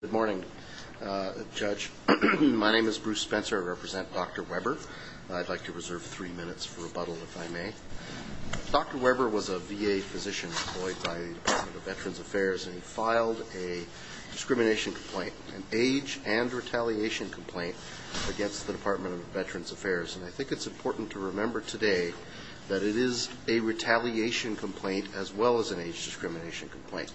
Good morning, Judge. My name is Bruce Spencer. I represent Dr. Weber. I'd like to reserve three minutes for rebuttal if I may. Dr. Weber was a VA physician employed by the Department of Veterans Affairs and he filed a discrimination complaint, an age and retaliation complaint against the Department of Veterans Affairs. And I think it's important to remember today that it is a retaliation complaint as well as an age discrimination complaint,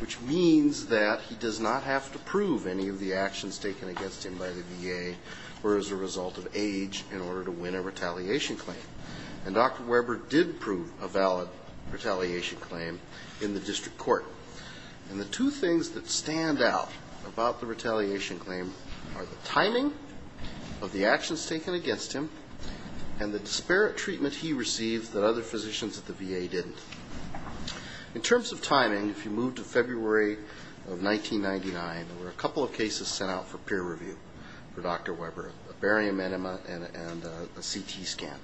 which means that he does not have to prove any of the actions taken against him by the VA were as a result of age in order to win a retaliation claim. And Dr. Weber did prove a valid retaliation claim in the district court. And the two things that stand out about the retaliation claim are the timing of the actions taken against him and the disparate treatment he received that other physicians at the VA didn't. In terms of timing, if you move to February of 1999, there were a couple of cases sent out for peer review for Dr. Weber, a barium enema and a CT scan.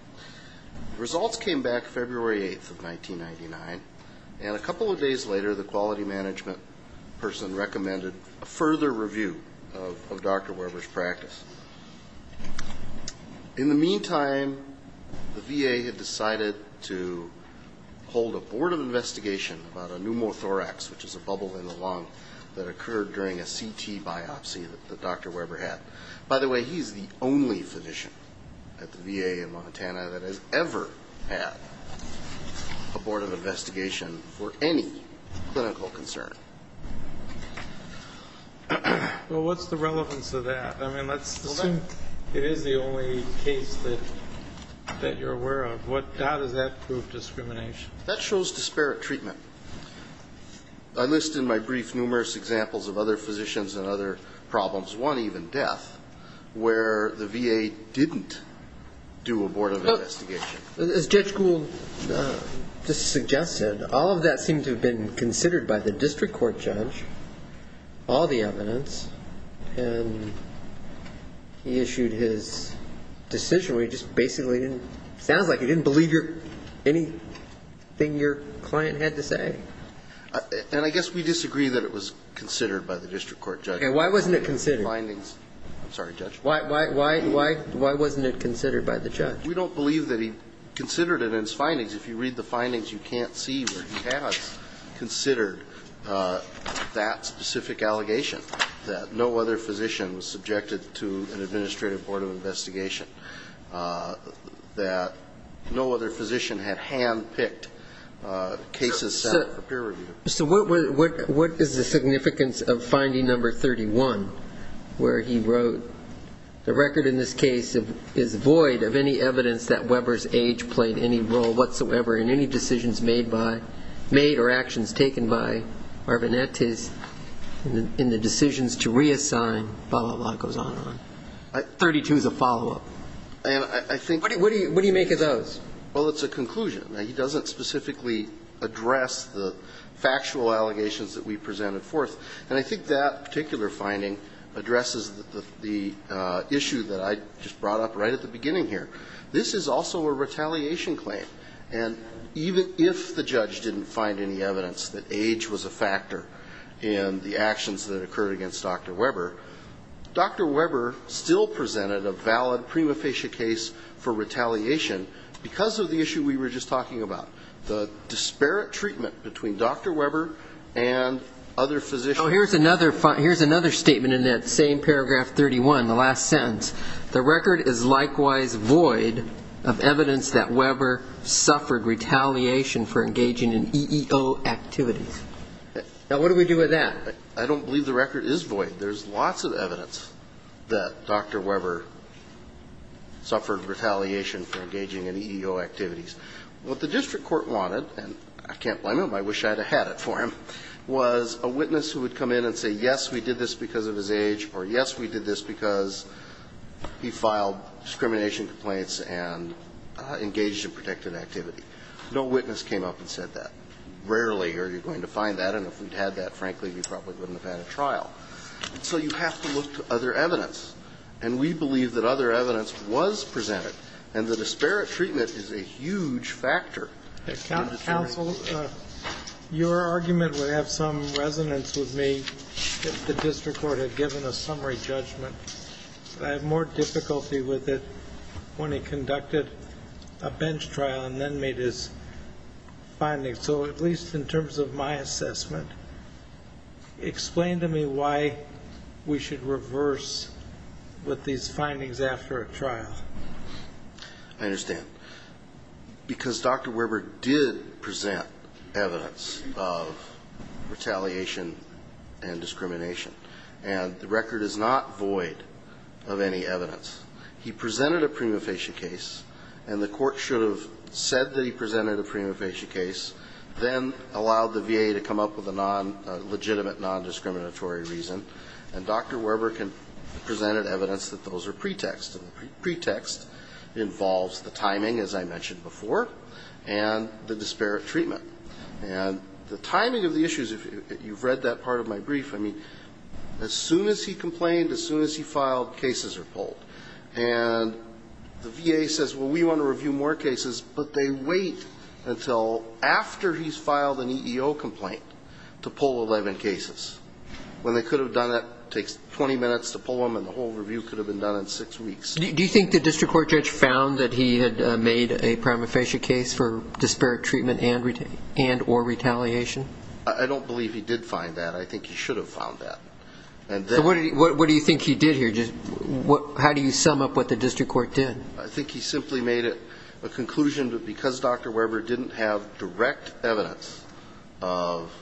The results came back February 8th of 1999. And a couple of days later, the quality management person recommended a further review of Dr. Weber's practice. In the meantime, the VA had decided to hold a board of investigation about a pneumothorax, which is a bubble in the lung that occurred during a CT scan. And it was a CT biopsy that Dr. Weber had. By the way, he's the only physician at the VA in Montana that has ever had a board of investigation for any clinical concern. Well, what's the relevance of that? I mean, it is the only case that you're aware of. How does that prove discrimination? That shows disparate treatment. I list in my brief numerous examples of other physicians and other problems, one even death, where the VA didn't do a board of investigation. And as Judge Gould just suggested, all of that seemed to have been considered by the district court judge, all the evidence. And he issued his decision where he just basically didn't – sounds like he didn't believe anything your client had to say. And I guess we disagree that it was considered by the district court judge. And why wasn't it considered? I'm sorry, Judge. Why wasn't it considered by the judge? We don't believe that he considered it in his findings. If you read the findings, you can't see where he has considered that specific allegation, that no other physician was subjected to an administrative board of investigation, that no other physician had hand-picked cases set up for peer review. So what is the significance of finding number 31, where he wrote, the record in this case is void of any evidence that Weber's age played any role whatsoever in any decisions made by – made or actions taken by Arvinettes in the decisions to reassign, blah, blah, blah, goes on and on. 32 is a follow-up. And I think – What do you make of those? Well, it's a conclusion. He doesn't specifically address the factual allegations that we presented forth. And I think that particular finding addresses the issue that I just brought up right at the beginning here. This is also a retaliation claim. And even if the judge didn't find any evidence that age was a factor in the actions that occurred against Dr. Weber, Dr. Weber still presented a valid prima facie case for retaliation because of the issue we were just talking about, the disparate treatment between Dr. Weber and other physicians. So here's another – here's another statement in that same paragraph 31, the last sentence. The record is likewise void of evidence that Weber suffered retaliation for engaging in EEO activities. Now, what do we do with that? I don't believe the record is void. There's lots of evidence that Dr. Weber suffered retaliation for engaging in EEO activities. What the district court wanted, and I can't blame him, I wish I had had it for him, was a witness who would come in and say, yes, we did this because of his age, or, yes, we did this because he filed discrimination complaints and engaged in protective activity. No witness came up and said that. Rarely are you going to find that, and if we'd had that, frankly, we probably wouldn't have had a trial. So you have to look to other evidence. And we believe that other evidence was presented, and the disparate treatment is a huge factor. Counsel, your argument would have some resonance with me if the district court had given a summary judgment. I have more difficulty with it when he conducted a bench trial and then made his findings. All right, so at least in terms of my assessment, explain to me why we should reverse with these findings after a trial. I understand. Because Dr. Weber did present evidence of retaliation and discrimination, and the record is not void of any evidence. He presented a prima facie case, and the court should have said that he presented a prima facie case, then allowed the VA to come up with a non-legitimate, non-discriminatory reason. And Dr. Weber presented evidence that those are pretexts, and the pretext involves the timing, as I mentioned before, and the disparate treatment. And the timing of the issues, if you've read that part of my brief, I mean, as soon as he complained, as soon as he filed, cases are pulled. And the VA says, well, we want to review more cases, but they wait until after he's filed an EEO complaint to pull 11 cases. When they could have done it, it takes 20 minutes to pull them, and the whole review could have been done in six weeks. Do you think the district court judge found that he had made a prima facie case for disparate treatment and or retaliation? I don't believe he did find that. I think he should have found that. So what do you think he did here? How do you sum up what the district court did? I think he simply made a conclusion that because Dr. Weber didn't have direct evidence of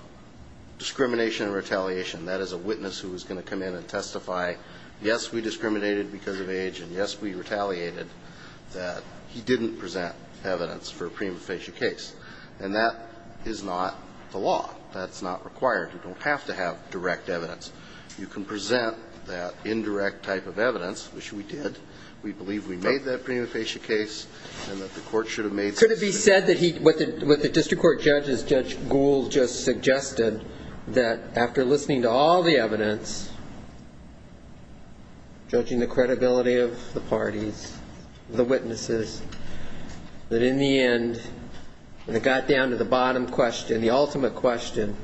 discrimination and retaliation, that as a witness who was going to come in and testify, yes, we discriminated because of age, and yes, we retaliated, that he didn't present evidence for a prima facie case. And that is not the law. That's not required. You don't have to have direct evidence. You can present that indirect type of evidence, which we did. We believe we made that prima facie case and that the court should have made. Could it be said that what the district court judge, as Judge Gould just suggested, that after listening to all the evidence, judging the credibility of the parties, the witnesses, that in the end, when it got down to the bottom question, the ultimate question,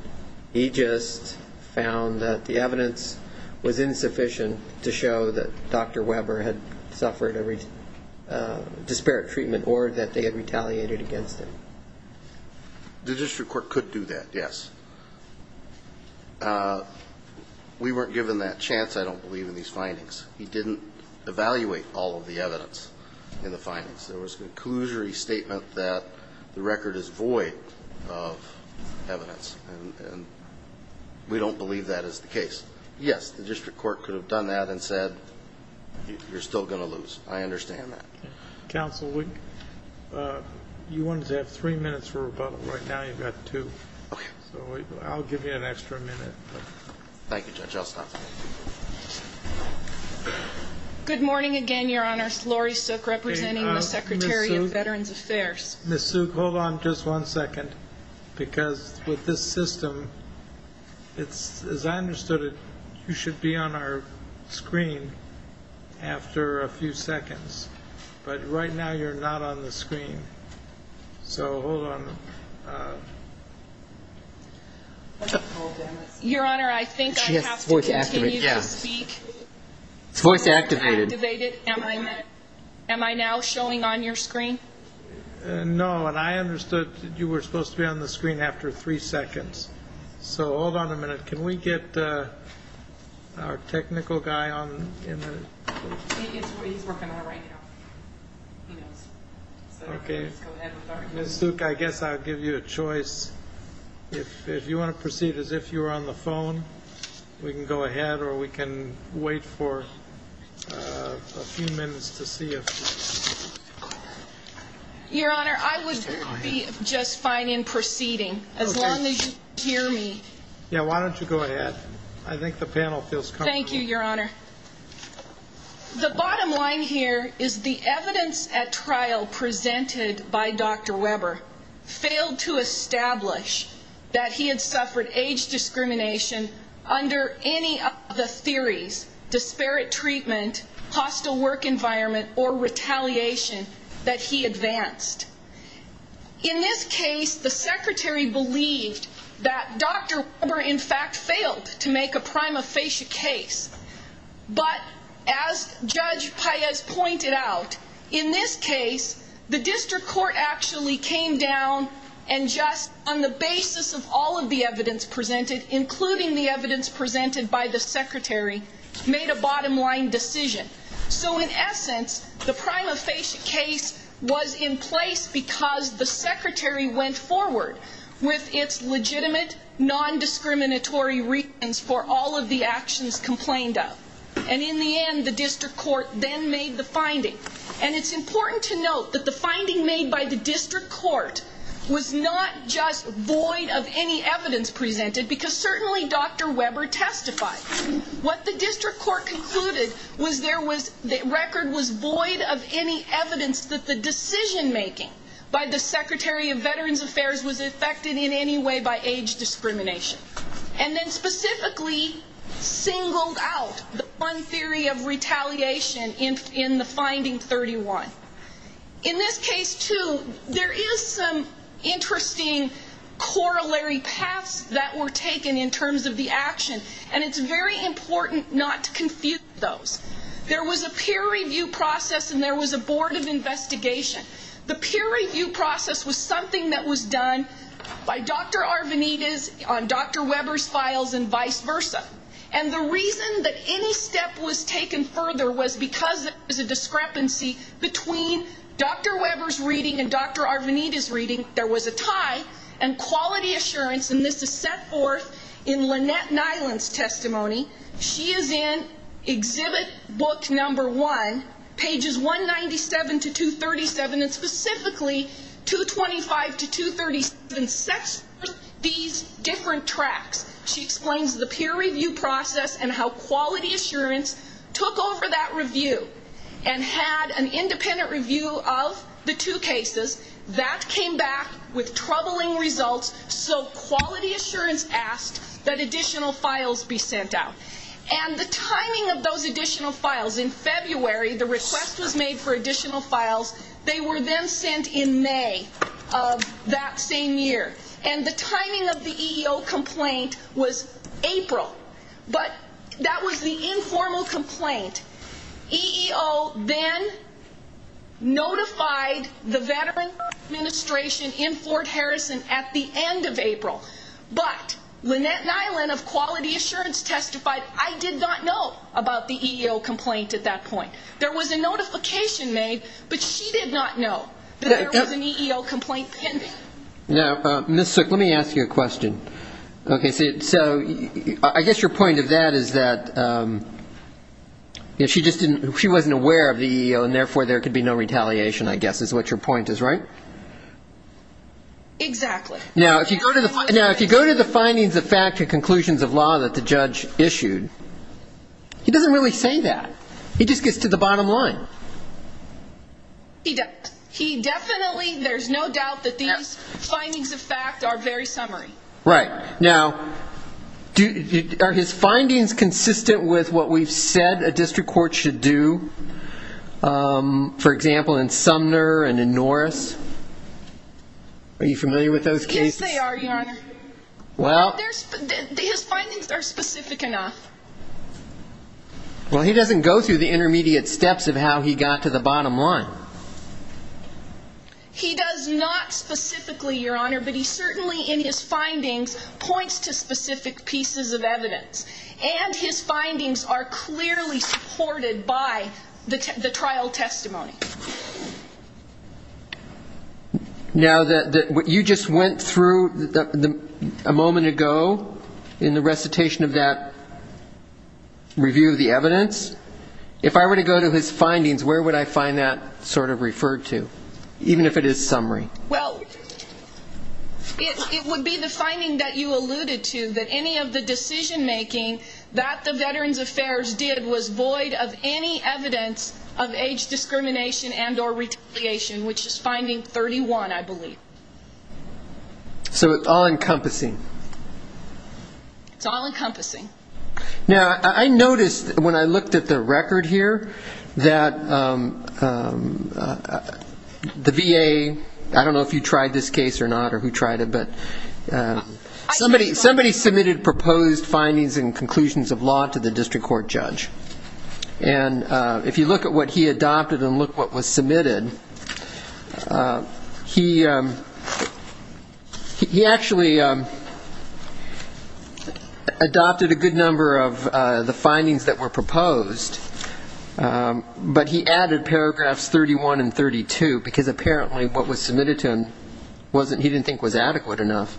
he just found that the evidence was insufficient to show that Dr. Weber had suffered a disparate treatment or that they had retaliated against him? The district court could do that, yes. We weren't given that chance, I don't believe, in these findings. He didn't evaluate all of the evidence in the findings. There was a conclusory statement that the record is void of evidence, and we don't believe that is the case. Yes, the district court could have done that and said, you're still going to lose. I understand that. Counsel, you wanted to have three minutes for rebuttal. Right now you've got two. Okay. So I'll give you an extra minute. Thank you, Judge. I'll stop. Good morning again, Your Honor. Lori Sook, representing the Secretary of Veterans Affairs. Ms. Sook, hold on just one second, because with this system, as I understood it, you should be on our screen after a few seconds. But right now you're not on the screen. So hold on. Your Honor, I think I have to continue to speak. Voice activated. Am I now showing on your screen? No, and I understood you were supposed to be on the screen after three seconds. So hold on a minute. Can we get our technical guy on? He's working on it right now. He knows. Okay. Ms. Sook, I guess I'll give you a choice. If you want to proceed as if you were on the phone, we can go ahead or we can wait for a few minutes to see if you're on. Your Honor, I would be just fine in proceeding, as long as you hear me. Yeah, why don't you go ahead? I think the panel feels comfortable. Thank you, Your Honor. The bottom line here is the evidence at trial presented by Dr. Weber failed to establish that he had suffered age discrimination under any of the theories, disparate treatment, hostile work environment, or retaliation that he advanced. In this case, the Secretary believed that Dr. Weber, in fact, failed to make a prima facie case. But as Judge Paez pointed out, in this case, the district court actually came down and just on the basis of all of the evidence presented, including the evidence presented by the Secretary, made a bottom line decision. So in essence, the prima facie case was in place because the Secretary went forward with its legitimate, non-discriminatory reasons for all of the actions complained of. And in the end, the district court then made the finding. And it's important to note that the finding made by the district court was not just void of any evidence presented, because certainly Dr. Weber testified. What the district court concluded was the record was void of any evidence that the decision-making by the Secretary of Veterans Affairs was affected in any way by age discrimination. And then specifically singled out one theory of retaliation in the finding 31. In this case, too, there is some interesting corollary paths that were taken in terms of the action, and it's very important not to confuse those. There was a peer review process and there was a board of investigation. The peer review process was something that was done by Dr. Arvanites on Dr. Weber's files and vice versa. And the reason that any step was taken further was because there was a discrepancy between Dr. Weber's reading and Dr. Arvanites' reading. There was a tie and quality assurance, and this is set forth in Lynette Nyland's testimony. She is in exhibit book number one, pages 197 to 237, and specifically 225 to 237 sets forth these different tracks. She explains the peer review process and how quality assurance took over that review and had an independent review of the two cases. That came back with troubling results, so quality assurance asked that additional files be sent out. And the timing of those additional files, in February the request was made for additional files. They were then sent in May of that same year. And the timing of the EEO complaint was April, but that was the informal complaint. EEO then notified the veteran administration in Fort Harrison at the end of April. But Lynette Nyland of quality assurance testified, I did not know about the EEO complaint at that point. There was a notification made, but she did not know that there was an EEO complaint pending. Now, Ms. Sook, let me ask you a question. Okay. So I guess your point of that is that she wasn't aware of the EEO, and therefore there could be no retaliation, I guess, is what your point is, right? Exactly. Now, if you go to the findings of fact and conclusions of law that the judge issued, he doesn't really say that. He just gets to the bottom line. He definitely, there's no doubt that these findings of fact are very summary. Right. Now, are his findings consistent with what we've said a district court should do, for example, in Sumner and in Norris? Are you familiar with those cases? His findings are specific enough. Well, he doesn't go through the intermediate steps of how he got to the bottom line. He does not specifically, Your Honor, but he certainly in his findings points to specific pieces of evidence. And his findings are clearly supported by the trial testimony. Now, you just went through a moment ago in the recitation of that review of the evidence. If I were to go to his findings, where would I find that sort of referred to, even if it is summary? Well, it would be the finding that you alluded to, that any of the decision-making that the Veterans Affairs did was void of any evidence of age discrimination and or retaliation, which is finding 31, I believe. So it's all-encompassing. It's all-encompassing. Now, I noticed when I looked at the record here that the VA, I don't know if you tried this case or not, or who tried it, but somebody submitted proposed findings and conclusions of law to the district court judge. And if you look at what he adopted and look what was submitted, he actually adopted a good number of the findings that were proposed, but he added paragraphs 31 and 32, because apparently what was submitted to him he didn't think was adequate enough.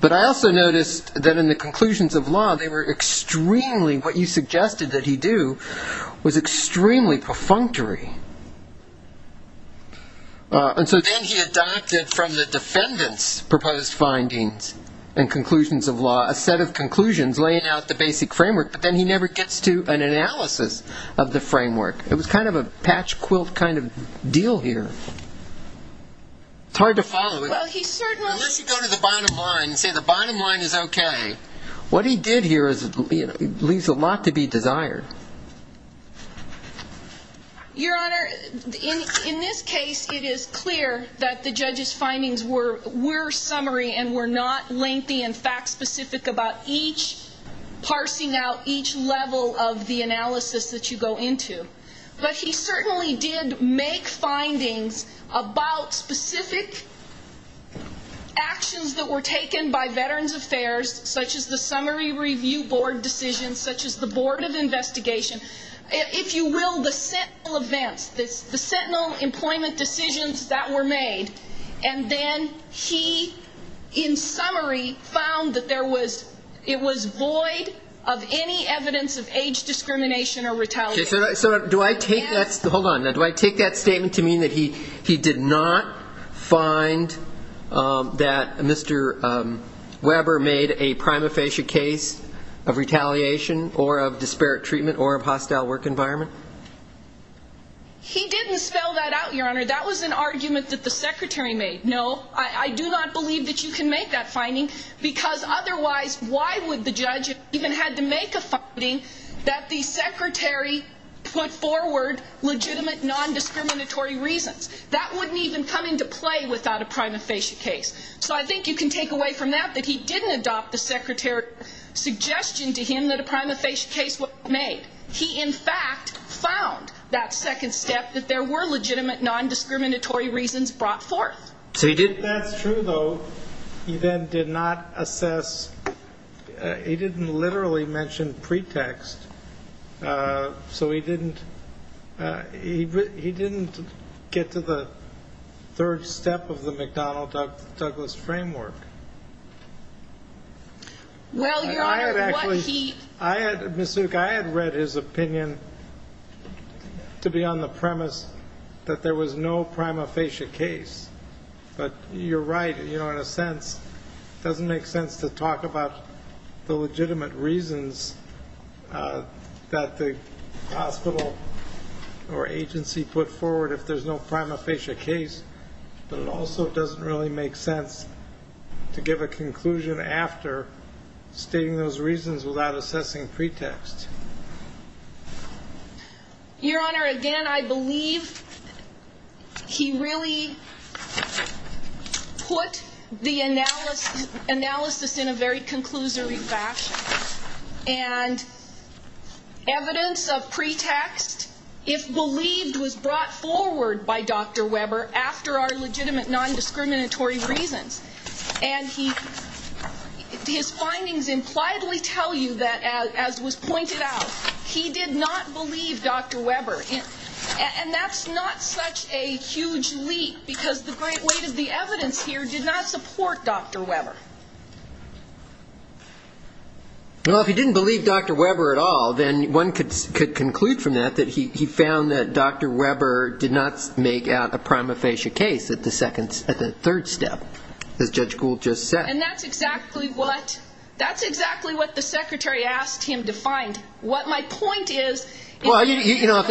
But I also noticed that in the conclusions of law, they were extremely, what you suggested that he do, was extremely perfunctory. And so then he adopted from the defendant's proposed findings and conclusions of law a set of conclusions laying out the basic framework, but then he never gets to an analysis of the framework. It was kind of a patch quilt kind of deal here. It's hard to follow. Unless you go to the bottom line and say the bottom line is okay, what he did here leaves a lot to be desired. Your Honor, in this case, it is clear that the judge's findings were summary and were not lengthy and fact-specific about each parsing out each level of the analysis that you go into. But he certainly did make findings about specific actions that were taken by Veterans Affairs, such as the summary review board decisions, such as the board of investigation. If you will, the sentinel events, the sentinel employment decisions that were made. And then he, in summary, found that there was, it was void of any evidence of age discrimination or retaliation. Okay, so do I take that, hold on, do I take that statement to mean that he did not find that Mr. Weber made a prima facie case of retaliation or of disparate treatment or of hostile work environment? He didn't spell that out, Your Honor. That was an argument that the secretary made. No, I do not believe that you can make that finding, because otherwise, why would the judge even have to make a finding that the secretary made? He did not put forward legitimate non-discriminatory reasons. That wouldn't even come into play without a prima facie case. So I think you can take away from that that he didn't adopt the secretary's suggestion to him that a prima facie case was made. He, in fact, found that second step, that there were legitimate non-discriminatory reasons brought forth. That's true, though. He then did not assess, he didn't literally mention pretext. So he didn't, he didn't get to the third step of the McDonnell-Douglas framework. Well, Your Honor, what he... I had actually, Ms. Zuck, I had read his opinion to be on the premise that there was no prima facie case. But you're right, you know, in a sense, it doesn't make sense to talk about the legitimate reasons for a prima facie case. That the hospital or agency put forward if there's no prima facie case, but it also doesn't really make sense to give a conclusion after stating those reasons without assessing pretext. Your Honor, again, I believe he really put the analysis in a very conclusory fashion. And evidence of pretext, if believed, was brought forward by Dr. Weber after our legitimate non-discriminatory reasons. And he, his findings impliedly tell you that, as was pointed out, he did not believe Dr. Weber. And that's not such a huge leap, because the great weight of the evidence here did not support Dr. Weber. Well, if he didn't believe Dr. Weber at all, then one could conclude from that that he found that Dr. Weber did not make out a prima facie case at the third step, as Judge Gould just said. And that's exactly what the secretary asked him to find. What my point is... Well, if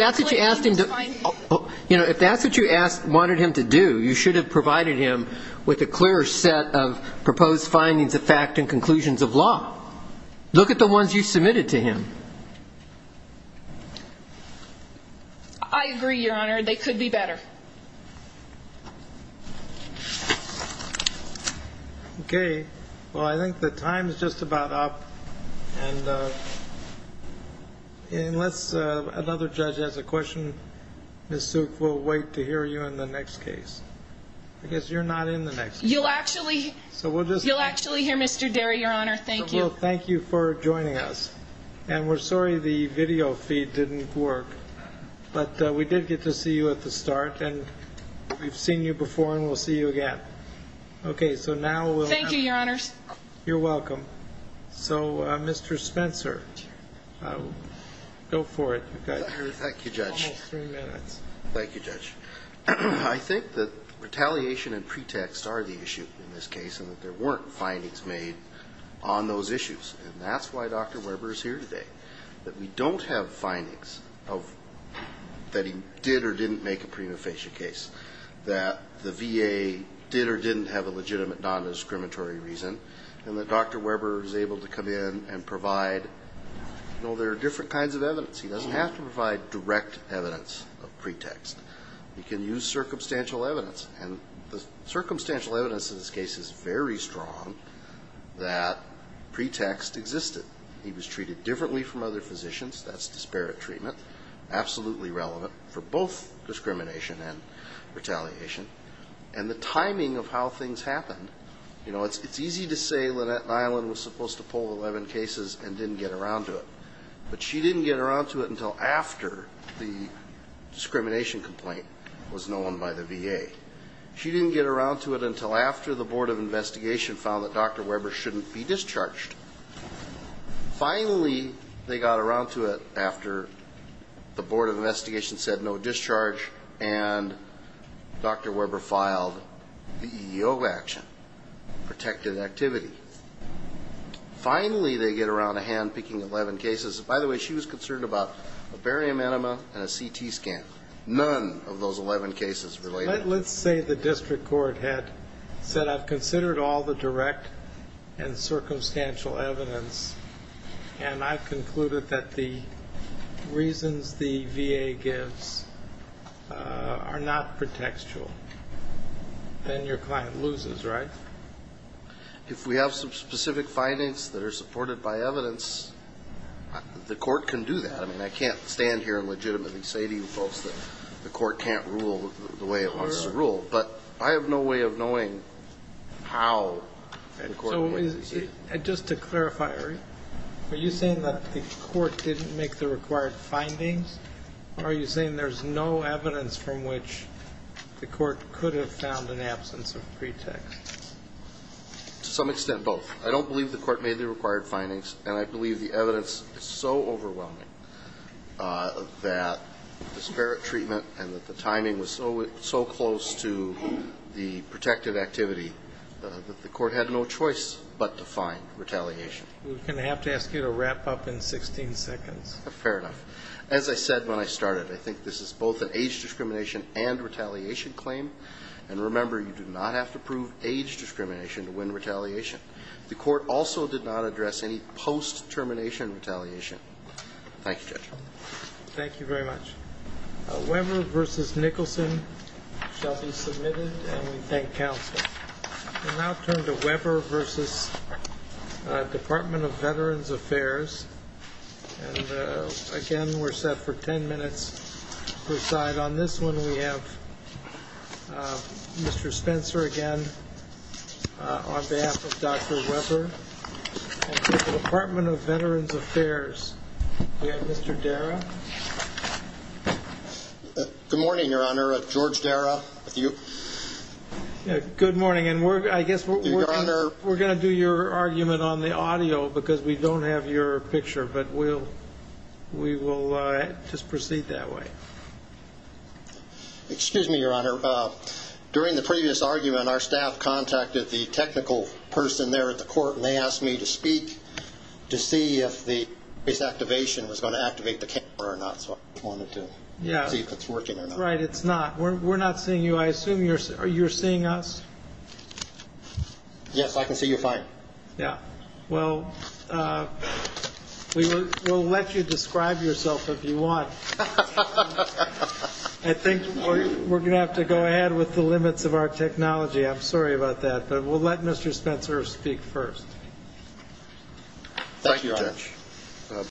that's what you wanted him to do, you should have provided him with a clear set of proposed findings of fact and conclusions of law. Look at the ones you submitted to him. I agree, Your Honor. They could be better. Okay. Well, I think the time is just about up. And unless another judge has a question, Ms. Suk, we'll wait to hear you in the next case. I guess you're not in the next case. You'll actually hear Mr. Derry, Your Honor. Thank you. Well, thank you for joining us. And we're sorry the video feed didn't work. But we did get to see you at the start, and we've seen you before, and we'll see you again. Thank you, Your Honors. You're welcome. So, Mr. Spencer, go for it. Thank you, Judge. I think that retaliation and pretext are the issue in this case, and that there weren't findings made on those issues. And that's why Dr. Weber is here today. That we don't have findings that he did or didn't make a prima facie case, that the VA did or didn't have a legitimate non-discriminatory reason, and that Dr. Weber is able to come in and provide, you know, there are different kinds of evidence. He doesn't have to provide direct evidence of pretext. He can use circumstantial evidence. And the circumstantial evidence in this case is very strong that pretext existed. He was treated differently from other physicians. That's disparate treatment. Absolutely relevant for both discrimination and retaliation. And the timing of how things happened. You know, it's easy to say Lynette Nyland was supposed to pull 11 cases and didn't get around to it. But she didn't get around to it until after the discrimination complaint was known by the VA. She didn't get around to it until after the Board of Investigation found that Dr. Weber shouldn't be discharged. Finally, they got around to it after the Board of Investigation said no discharge and Dr. Weber filed the EEO action, protected activity. Finally, they get around to handpicking 11 cases. By the way, she was concerned about a barium enema and a CT scan. None of those 11 cases related. Let's say the district court had said I've considered all the direct and circumstantial evidence and I've concluded that the reasons the VA gives are not pretextual. Then your client loses, right? If we have some specific findings that are supported by evidence, the court can do that. I mean, I can't stand here and legitimately say to you both that the court can't rule the way it wants to rule. But I have no way of knowing how the court will do this. So just to clarify, are you saying that the court didn't make the required findings or are you saying there's no evidence from which the court could have found an absence of pretext? To some extent, both. I don't believe the court made the required findings and I believe the evidence is so overwhelming that disparate treatment and that the timing was so close to the protected activity that the court had no choice but to find retaliation. We're going to have to ask you to wrap up in 16 seconds. Fair enough. As I said when I started, I think this is both an age discrimination and retaliation claim. And remember, you do not have to prove age discrimination to win retaliation. The court also did not address any post-termination retaliation. Thank you, Judge. Thank you very much. Weber v. Nicholson shall be submitted and we thank counsel. We'll now turn to Weber v. Department of Veterans Affairs. Again, we're set for 10 minutes per side. On this one we have Mr. Spencer again on behalf of Dr. Weber and the Department of Veterans Affairs. We have Mr. Darragh. Good morning, Your Honor. George Darragh. We're going to do your argument on the audio because we don't have your picture, but we will just proceed that way. Excuse me, Your Honor. During the previous argument, our staff contacted the technical person there at the court and they asked me to speak to see if this activation was going to activate the camera or not. So I wanted to see if it's working or not. Right. It's not. We're not seeing you. I assume you're seeing us. Yes, I can see you fine. Yeah. Well, we will let you describe yourself if you want. I think we're going to have to go ahead with the limits of our technology. I'm sorry about that. But we'll let Mr. Spencer speak first.